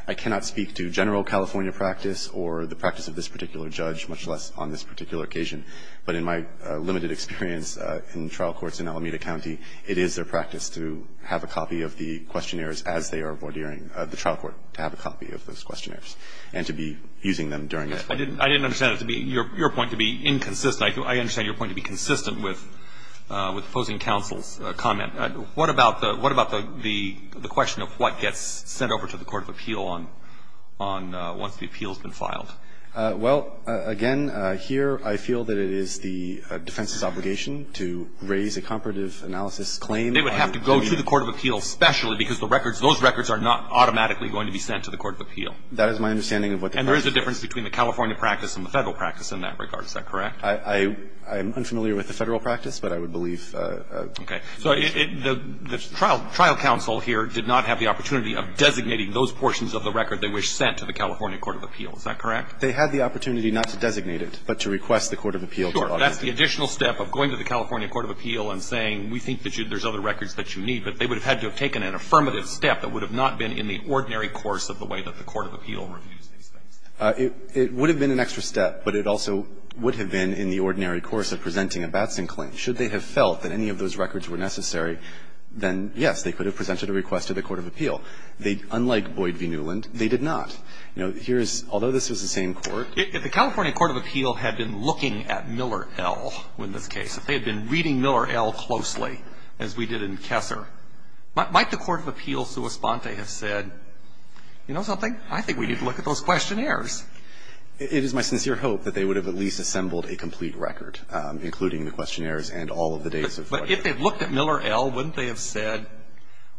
I cannot speak to general California practice or the practice of this particular judge, much less on this particular occasion. But in my limited experience in trial courts in Alameda County, it is their practice to have a copy of the questionnaires as they are vordeering the trial court, to have a copy of those questionnaires and to be using them during that. I didn't understand it to be – your point to be inconsistent. I understand your point to be consistent with the opposing counsel's comment. What about the question of what gets sent over to the court of appeal on – once the appeal has been filed? Well, again, here I feel that it is the defense's obligation to raise a comparative analysis claim. They would have to go to the court of appeal especially because the records – those records are not automatically going to be sent to the court of appeal. That is my understanding of what the practice is. And there is a difference between the California practice and the Federal practice in that regard. Is that correct? I'm unfamiliar with the Federal practice, but I would believe – Okay. So the trial counsel here did not have the opportunity of designating those portions of the record they wish sent to the California court of appeal. Is that correct? They had the opportunity not to designate it, but to request the court of appeal to audit it. Sure. That's the additional step of going to the California court of appeal and saying we think that there's other records that you need. But they would have had to have taken an affirmative step that would have not been in the ordinary course of the way that the court of appeal reviews these things. It would have been an extra step, but it also would have been in the ordinary course of presenting a Batson claim. Should they have felt that any of those records were necessary, then, yes, they could have presented a request to the court of appeal. They, unlike Boyd v. Newland, they did not. You know, here's – although this was the same court – If the California court of appeal had been looking at Miller L. in this case, if they had been reading Miller L. closely, as we did in Kessler, might the court of appeal sua sponte have said, you know something, I think we need to look at those questionnaires. It is my sincere hope that they would have at least assembled a complete record, including the questionnaires and all of the dates of – But if they had looked at Miller L., wouldn't they have said,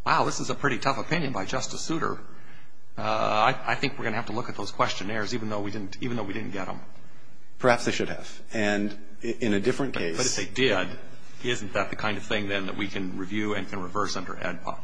wow, this is a pretty tough opinion by Justice Souter. I think we're going to have to look at those questionnaires, even though we didn't – even though we didn't get them. Perhaps they should have. And in a different case – But if they did, isn't that the kind of thing, then, that we can review and can reverse under AEDPA?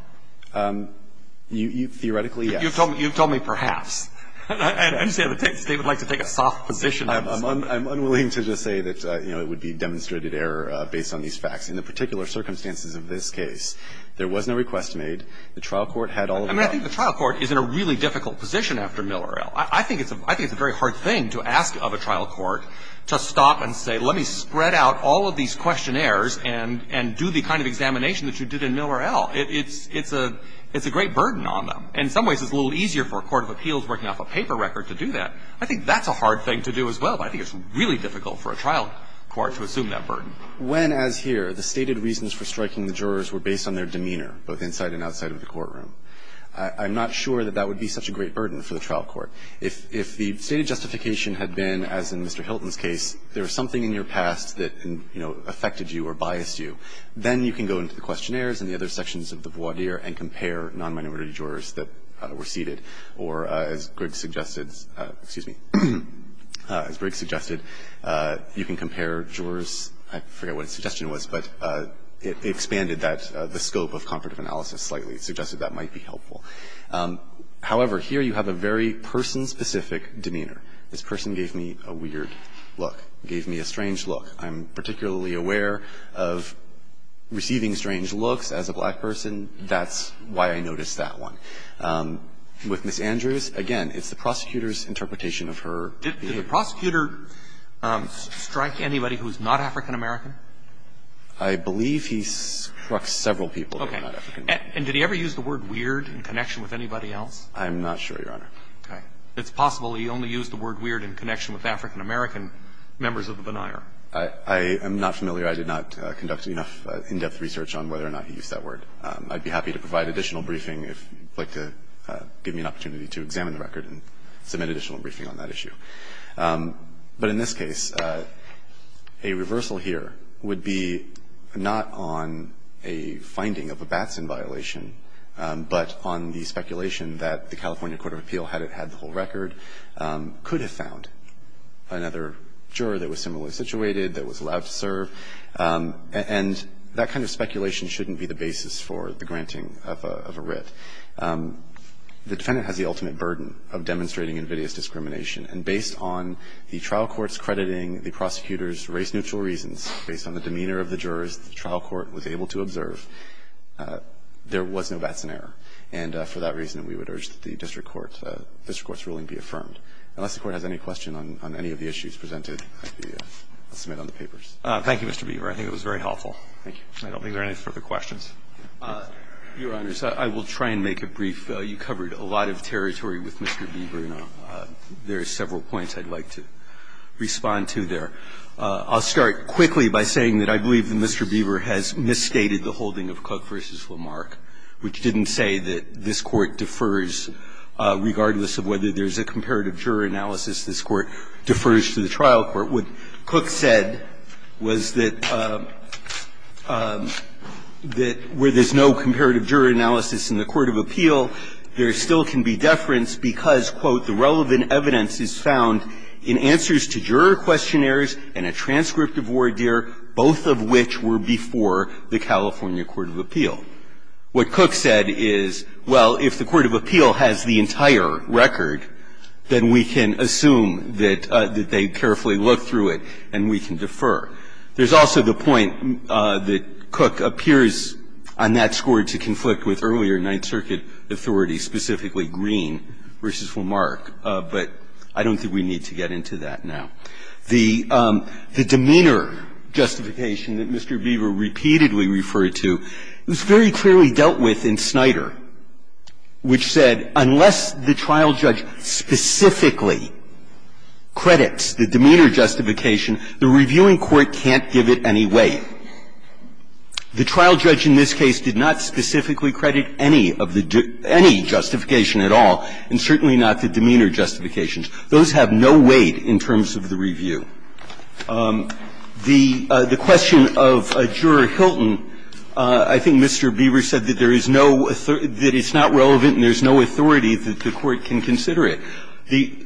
Theoretically, yes. And I understand that David would like to take a soft position on this one. I'm unwilling to just say that, you know, it would be demonstrated error based on these facts. In the particular circumstances of this case, there was no request made. The trial court had all of the – I mean, I think the trial court is in a really difficult position after Miller L. I think it's a very hard thing to ask of a trial court to stop and say, let me spread out all of these questionnaires and do the kind of examination that you did in Miller L. It's a great burden on them. In some ways, it's a little easier for a court of appeals working off a paper record to do that. I think that's a hard thing to do as well. But I think it's really difficult for a trial court to assume that burden. When, as here, the stated reasons for striking the jurors were based on their demeanor, both inside and outside of the courtroom, I'm not sure that that would be such a great burden for the trial court. If the stated justification had been, as in Mr. Hilton's case, there was something in your past that, you know, affected you or biased you, then you can go into the questionnaires and the other sections of the voir dire and compare non-minority jurors that were seated. Or, as Griggs suggested, you can compare jurors, I forget what his suggestion was, but it expanded the scope of comparative analysis slightly. It suggested that might be helpful. However, here you have a very person-specific demeanor. This person gave me a weird look, gave me a strange look. I'm particularly aware of receiving strange looks as a black person. That's why I noticed that one. With Ms. Andrews, again, it's the prosecutor's interpretation of her behavior. Did the prosecutor strike anybody who's not African-American? I believe he struck several people who are not African-American. Okay. And did he ever use the word weird in connection with anybody else? I'm not sure, Your Honor. Okay. It's possible he only used the word weird in connection with African-American members of the voir dire. I am not familiar. I did not conduct enough in-depth research on whether or not he used that word. I'd be happy to provide additional briefing if you'd like to give me an opportunity to examine the record and submit additional briefing on that issue. But in this case, a reversal here would be not on a finding of a Batson violation, but on the speculation that the California court of appeal, had it had the whole record, could have found another juror that was similarly situated, that was allowed to serve. And that kind of speculation shouldn't be the basis for the granting of a writ. The defendant has the ultimate burden of demonstrating invidious discrimination. And based on the trial court's crediting the prosecutor's race-neutral reasons, based on the demeanor of the jurors the trial court was able to observe, there was no Batson error. And for that reason, we would urge that the district court's ruling be affirmed. Unless the Court has any question on any of the issues presented, I'll submit on the papers. Thank you, Mr. Beaver. I think it was very helpful. Thank you. I don't think there are any further questions. Your Honors, I will try and make it brief. You covered a lot of territory with Mr. Beaver, and there are several points I'd like to respond to there. I'll start quickly by saying that I believe that Mr. Beaver has misstated the holding of Cook v. Lamarck, which didn't say that this Court defers, regardless of whether there's a comparative juror analysis, this Court defers to the trial court. What Cook said was that where there's no comparative juror analysis in the court of appeal, there still can be deference because, quote, the relevant evidence is found in answers to juror questionnaires and a transcript of voir dire, both of which were before the California court of appeal. What Cook said is, well, if the court of appeal has the entire record, then we can assume that they carefully looked through it and we can defer. There's also the point that Cook appears on that score to conflict with earlier Ninth Circuit authorities, specifically Green v. Lamarck, but I don't think we need to get into that now. The demeanor justification that Mr. Beaver repeatedly referred to was very clearly dealt with in Snyder, which said, unless the trial judge specifically credits the demeanor justification, the reviewing court can't give it any weight. The trial judge in this case did not specifically credit any of the due any justification at all, and certainly not the demeanor justifications. Those have no weight in terms of the review. The question of Juror Hilton, I think Mr. Beaver said that there is no other – that it's not relevant and there's no authority that the court can consider it.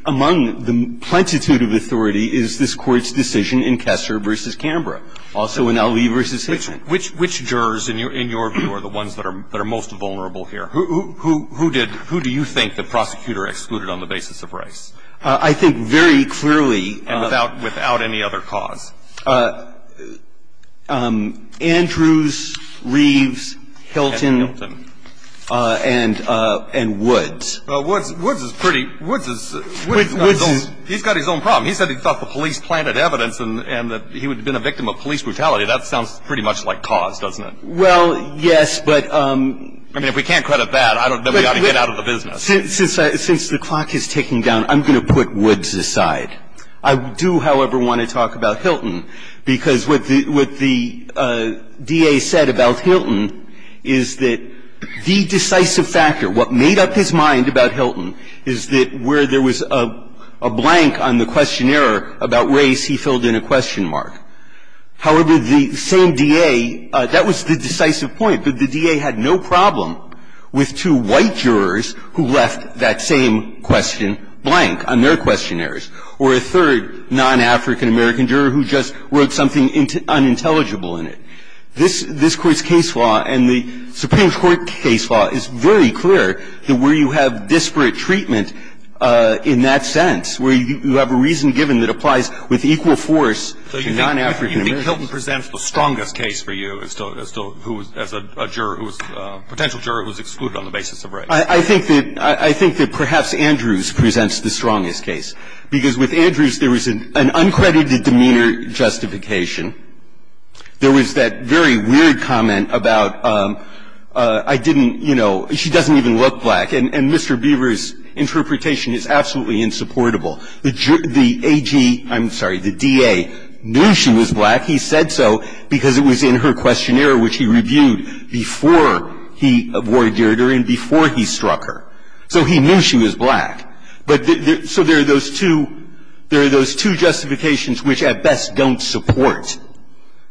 Among the plentitude of authority is this Court's decision in Kessler v. Canberra, also in Ali v. Hitchman. Roberts. Which jurors in your view are the ones that are most vulnerable here? Who did – who do you think the prosecutor excluded on the basis of Rice? I think very clearly – And without any other cause? Andrews, Reeves, Hilton, and Woods. Well, Woods is pretty – Woods is – he's got his own problem. He said he thought the police planted evidence and that he would have been a victim of police brutality. That sounds pretty much like cause, doesn't it? Well, yes, but – I mean, if we can't credit that, then we ought to get out of the business. Since the clock is ticking down, I'm going to put Woods aside. I do, however, want to talk about Hilton, because what the DA said about Hilton is that the decisive factor, what made up his mind about Hilton, is that where there was a blank on the questionnaire about Race, he filled in a question mark. However, the same DA – that was the decisive point. The DA had no problem with two white jurors who left that same question blank on their questionnaires, or a third non-African-American juror who just wrote something unintelligible in it. This Court's case law and the Supreme Court case law is very clear that where you have disparate treatment in that sense, where you have a reason given that applies with equal force to non-African-Americans. And I think that Hilton presents the strongest case for you as to who was – as a juror who was – potential juror who was excluded on the basis of Race. I think that – I think that perhaps Andrews presents the strongest case, because with Andrews, there was an uncredited demeanor justification. There was that very weird comment about, I didn't – you know, she doesn't even look black, and Mr. Beaver's interpretation is absolutely insupportable. The AG – I'm sorry, the DA knew she was black. He said so because it was in her questionnaire, which he reviewed before he awarded her and before he struck her. So he knew she was black. But there – so there are those two – there are those two justifications which at best don't support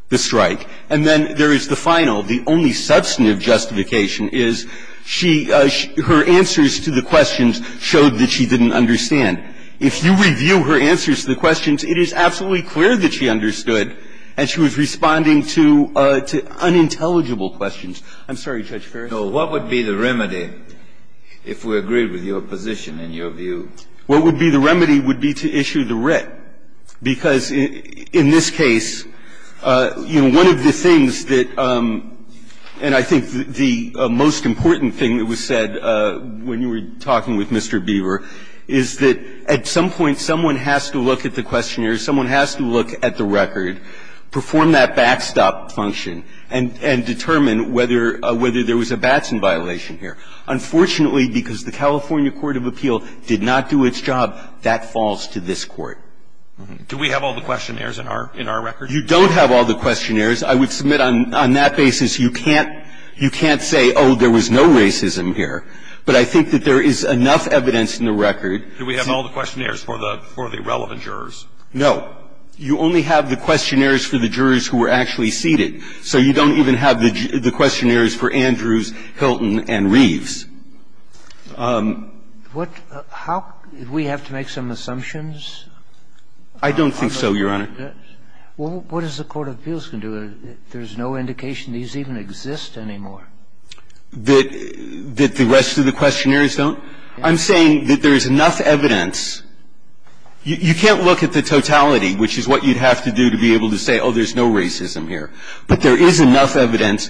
the strike. And then there is the final, the only substantive justification, is she – her answers to the questions showed that she didn't understand. If you review her answers to the questions, it is absolutely clear that she understood, and she was responding to unintelligible questions. I'm sorry, Judge Ferris. Breyer, what would be the remedy if we agreed with your position and your view? What would be the remedy would be to issue the writ, because in this case, you know, one of the things that – and I think the most important thing that was said when you were talking with Mr. Beaver is that at some point, someone has to look at the questionnaire, someone has to look at the record, perform that backstop function, and determine whether there was a Batson violation here. Unfortunately, because the California court of appeal did not do its job, that falls to this Court. Do we have all the questionnaires in our record? You don't have all the questionnaires. I would submit on that basis, you can't say, oh, there was no racism here. But I think that there is enough evidence in the record to – Do we have all the questionnaires for the – for the relevant jurors? No. You only have the questionnaires for the jurors who were actually seated. So you don't even have the questionnaires for Andrews, Hilton, and Reeves. What – how – do we have to make some assumptions? I don't think so, Your Honor. Well, what does the court of appeals can do? There's no indication these even exist anymore. That – that the rest of the questionnaires don't? I'm saying that there is enough evidence. You can't look at the totality, which is what you'd have to do to be able to say, oh, there's no racism here. But there is enough evidence,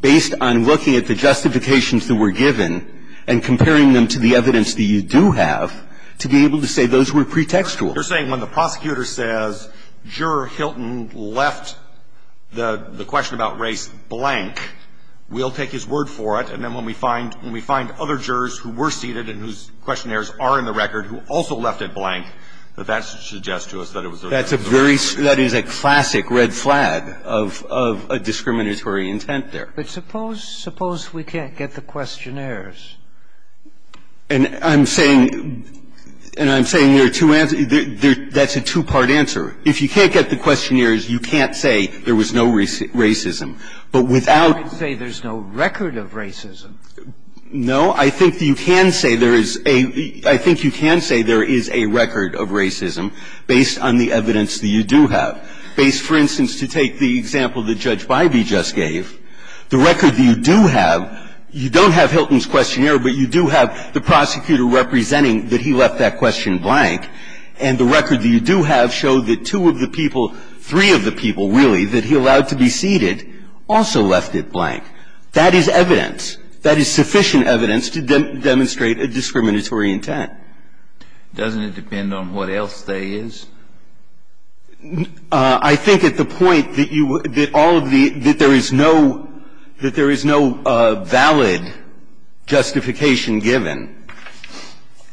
based on looking at the justifications that were given and comparing them to the evidence that you do have, to be able to say those were pretextual. You're saying when the prosecutor says, Juror Hilton left the question about race blank, we'll take his word for it, and then when we find other jurors who were seated and whose questionnaires are in the record who also left it blank, that that suggests to us that it was a very – That's a very – that is a classic red flag of a discriminatory intent there. But suppose – suppose we can't get the questionnaires. And I'm saying – and I'm saying there are two – that's a two-part answer. If you can't get the questionnaires, you can't say there was no racism. But without – You can't say there's no record of racism. No. I think you can say there is a – I think you can say there is a record of racism based on the evidence that you do have. Based, for instance, to take the example that Judge Bybee just gave, the record that you do have, you don't have Hilton's questionnaire, but you do have the prosecutor representing that he left that question blank. And the record that you do have showed that two of the people – three of the people, really, that he allowed to be seated also left it blank. That is evidence. That is sufficient evidence to demonstrate a discriminatory intent. Doesn't it depend on what else there is? I think at the point that you – that all of the – that there is no – that there is no valid justification given.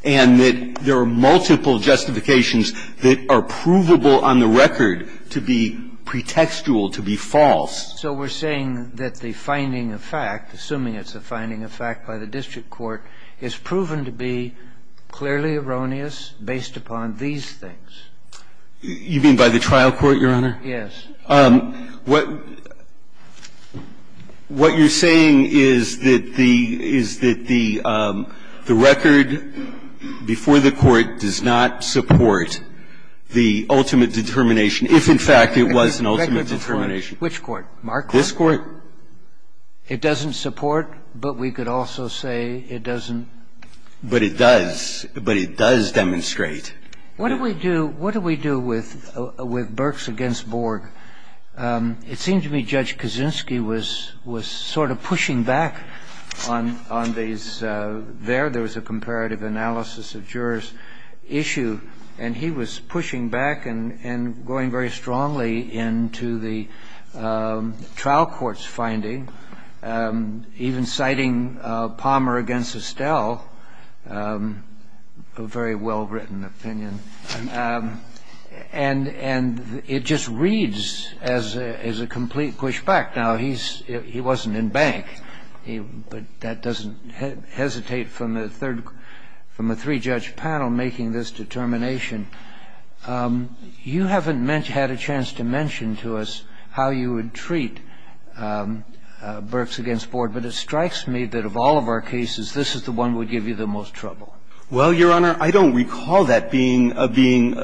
And that there are multiple justifications that are provable on the record to be pretextual, to be false. So we're saying that the finding of fact, assuming it's a finding of fact by the district court, is proven to be clearly erroneous based upon these things? You mean by the trial court, Your Honor? Yes. What you're saying is that the – is that the record before the court does not support the ultimate determination, if, in fact, it was an ultimate determination. Which court? Marquardt? This Court. It doesn't support, but we could also say it doesn't? But it does. But it does demonstrate. What do we do – what do we do with Burks v. Borg? It seemed to me Judge Kaczynski was sort of pushing back on these – there was a comparative analysis of jurors' issue, and he was pushing back and going very strongly into the trial court's finding, even citing Palmer v. Estelle, a very well-written opinion. And it just reads as a complete pushback. Now, he's – he wasn't in bank, but that doesn't hesitate from the third – from the three-judge panel making this determination. You haven't had a chance to mention to us how you would treat Burks v. Borg, but it strikes me that of all of our cases, this is the one that would give you the most trouble. Well, Your Honor, I don't recall that being a being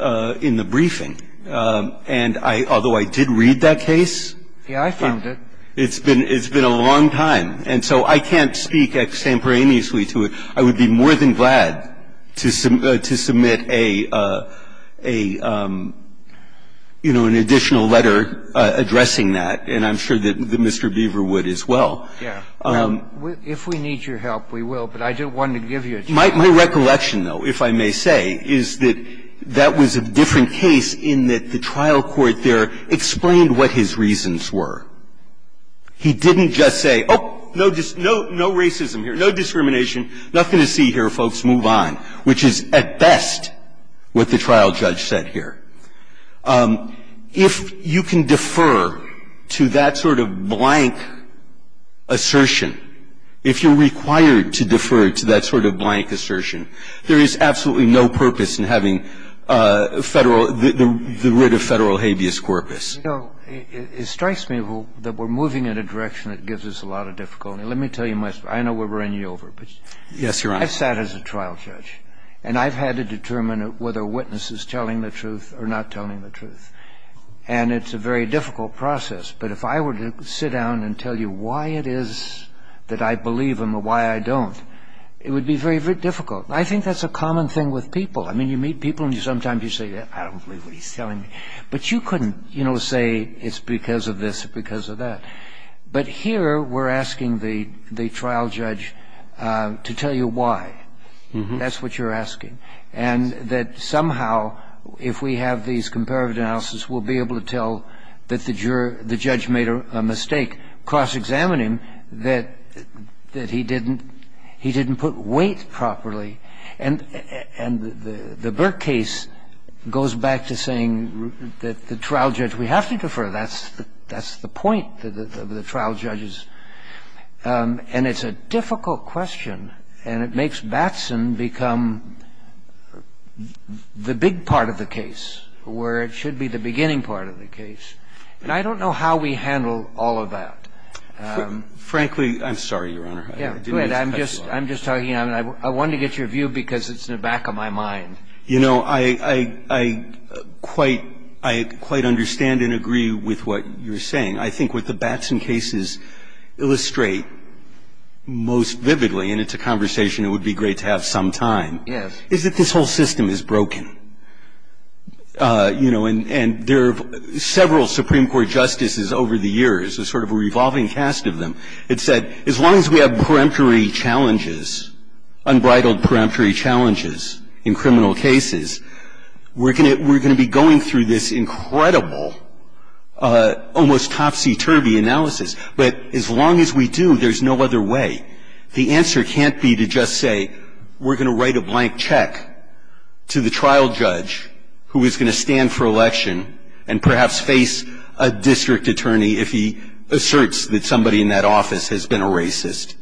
in the briefing. And I – although I did read that case. Yeah, I found it. It's been – it's been a long time. And so I can't speak extemporaneously to it. I would be more than glad to submit a – you know, an additional letter addressing that, and I'm sure that Mr. Beaver would as well. Yeah. If we need your help, we will, but I just wanted to give you a chance. My recollection, though, if I may say, is that that was a different case in that the trial court there explained what his reasons were. He didn't just say, oh, no racism here, no discrimination, nothing to see here, folks, move on, which is at best what the trial judge said here. If you can defer to that sort of blank assertion, if you're required to defer to that sort of blank assertion, there is absolutely no purpose in having Federal – the writ of Federal habeas corpus. You know, it strikes me that we're moving in a direction that gives us a lot of difficulty. Let me tell you my story. I know we're running you over, but I've sat as a trial judge, and I've had to determine whether a witness is telling the truth or not telling the truth, and it's a very difficult process. But if I were to sit down and tell you why it is that I believe him or why I don't, it would be very, very difficult. I think that's a common thing with people. I mean, you meet people, and sometimes you say, I don't believe what he's telling me, but you couldn't, you know, say it's because of this or because of that. But here, we're asking the trial judge to tell you why. That's what you're asking, and that somehow, if we have these comparative analysis, we'll be able to tell that the judge made a mistake, cross-examine him, that he didn't put weight properly. And the Burke case goes back to saying that the trial judge, we have to defer. That's the point of the trial judges. And it's a difficult question, and it makes Batson become the big part of the case where it should be the beginning part of the case. And I don't know how we handle all of that. Frankly, I'm sorry, Your Honor, I didn't mean to cut you off. I'm just talking, I wanted to get your view because it's in the back of my mind. You know, I quite understand and agree with what you're saying. I think what the Batson cases illustrate most vividly, and it's a conversation it would be great to have some time, is that this whole system is broken. You know, and there are several Supreme Court justices over the years, a sort of a revolving cast of them, that said, as long as we have peremptory challenges, unbridled peremptory challenges in criminal cases, we're going to be going through this incredible, almost topsy-turvy analysis. But as long as we do, there's no other way. The answer can't be to just say, we're going to write a blank check to the trial judge who is going to stand for election and perhaps face a district attorney if he asserts that somebody in that office has been a racist.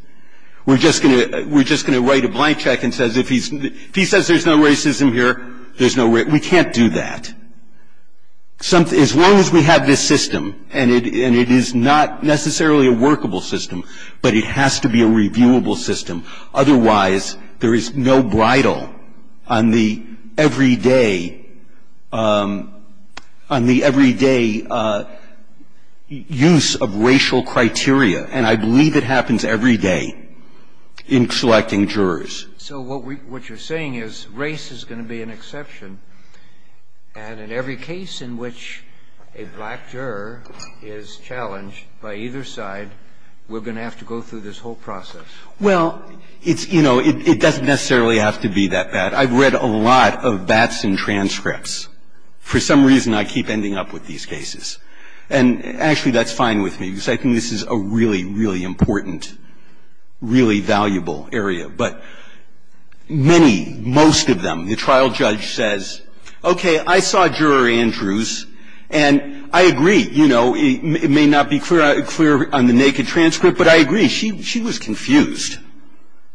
We're just going to write a blank check and says, if he says there's no racism here, there's no racism, we can't do that. As long as we have this system, and it is not necessarily a workable system, but it has to be a reviewable system. Otherwise, there is no bridle on the every day, on the every day use of racial criteria, and I believe it happens every day in selecting jurors. So what you're saying is race is going to be an exception, and in every case in which a black juror is challenged by either side, we're going to have to go through this whole process. Well, it's, you know, it doesn't necessarily have to be that bad. I've read a lot of bats in transcripts. For some reason, I keep ending up with these cases. And actually, that's fine with me, because I think this is a really, really important, really valuable area. But many, most of them, the trial judge says, okay, I saw Juror Andrews, and I agree. You know, it may not be clear on the naked transcript, but I agree. I mean, she was confused.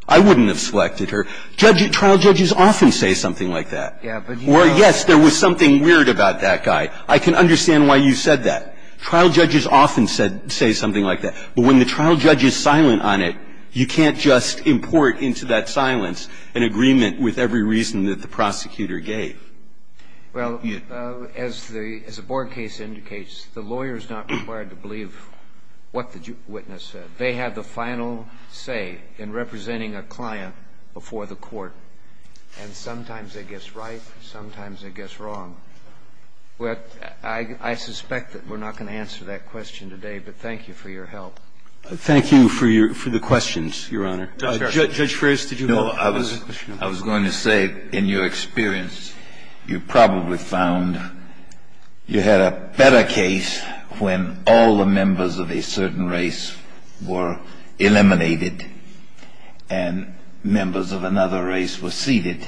I wouldn't have selected her. Trial judges often say something like that. Or, yes, there was something weird about that guy. I can understand why you said that. Trial judges often say something like that. But when the trial judge is silent on it, you can't just import into that silence an agreement with every reason that the prosecutor gave. Well, as the Board case indicates, the lawyer is not required to believe what the witness said. I'm just saying that they have the final say in representing a client before the court, and sometimes they guess right, sometimes they guess wrong. I suspect that we're not going to answer that question today, but thank you for your help. Thank you for your questions, Your Honor. Judge Ferris, did you have a question? No. I was going to say, in your experience, you probably found you had a better case when all the members of a certain race were eliminated and members of another race were seated.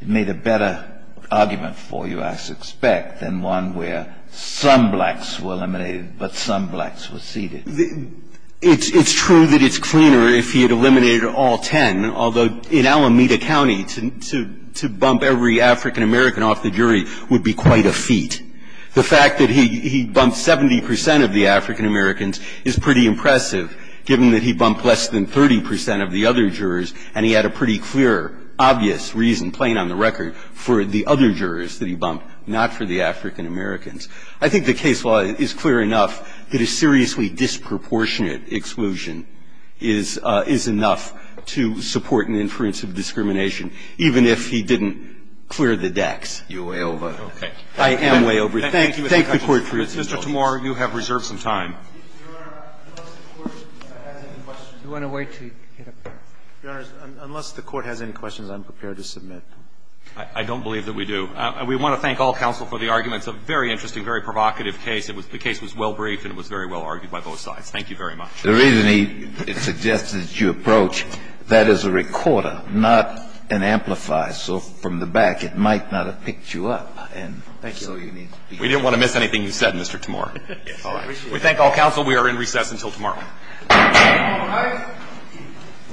It made a better argument for you, I suspect, than one where some blacks were eliminated but some blacks were seated. It's true that it's cleaner if he had eliminated all ten, although in Alameda County, to bump every African-American off the jury would be quite a feat. The fact that he bumped 70 percent of the African-Americans is pretty impressive, given that he bumped less than 30 percent of the other jurors, and he had a pretty clear, obvious reason, plain on the record, for the other jurors that he bumped, not for the African-Americans. I think the case law is clear enough that a seriously disproportionate exclusion is enough to support an inference of discrimination, even if he didn't clear the decks. You're way over it. Okay. I am way over it. Thank you, Mr. Chief Justice. Mr. Tamura, you have reserved some time. Your Honor, unless the Court has any questions, I'm prepared to submit. I don't believe that we do. We want to thank all counsel for the arguments. A very interesting, very provocative case. It was the case was well briefed and it was very well argued by both sides. Thank you very much. The reason he suggested that you approach that as a recorder, not an amplifier. So from the back, it might not have picked you up, and so you need to be. We didn't want to miss anything you said, Mr. Tamura. We thank all counsel. We are in recess until tomorrow. All right.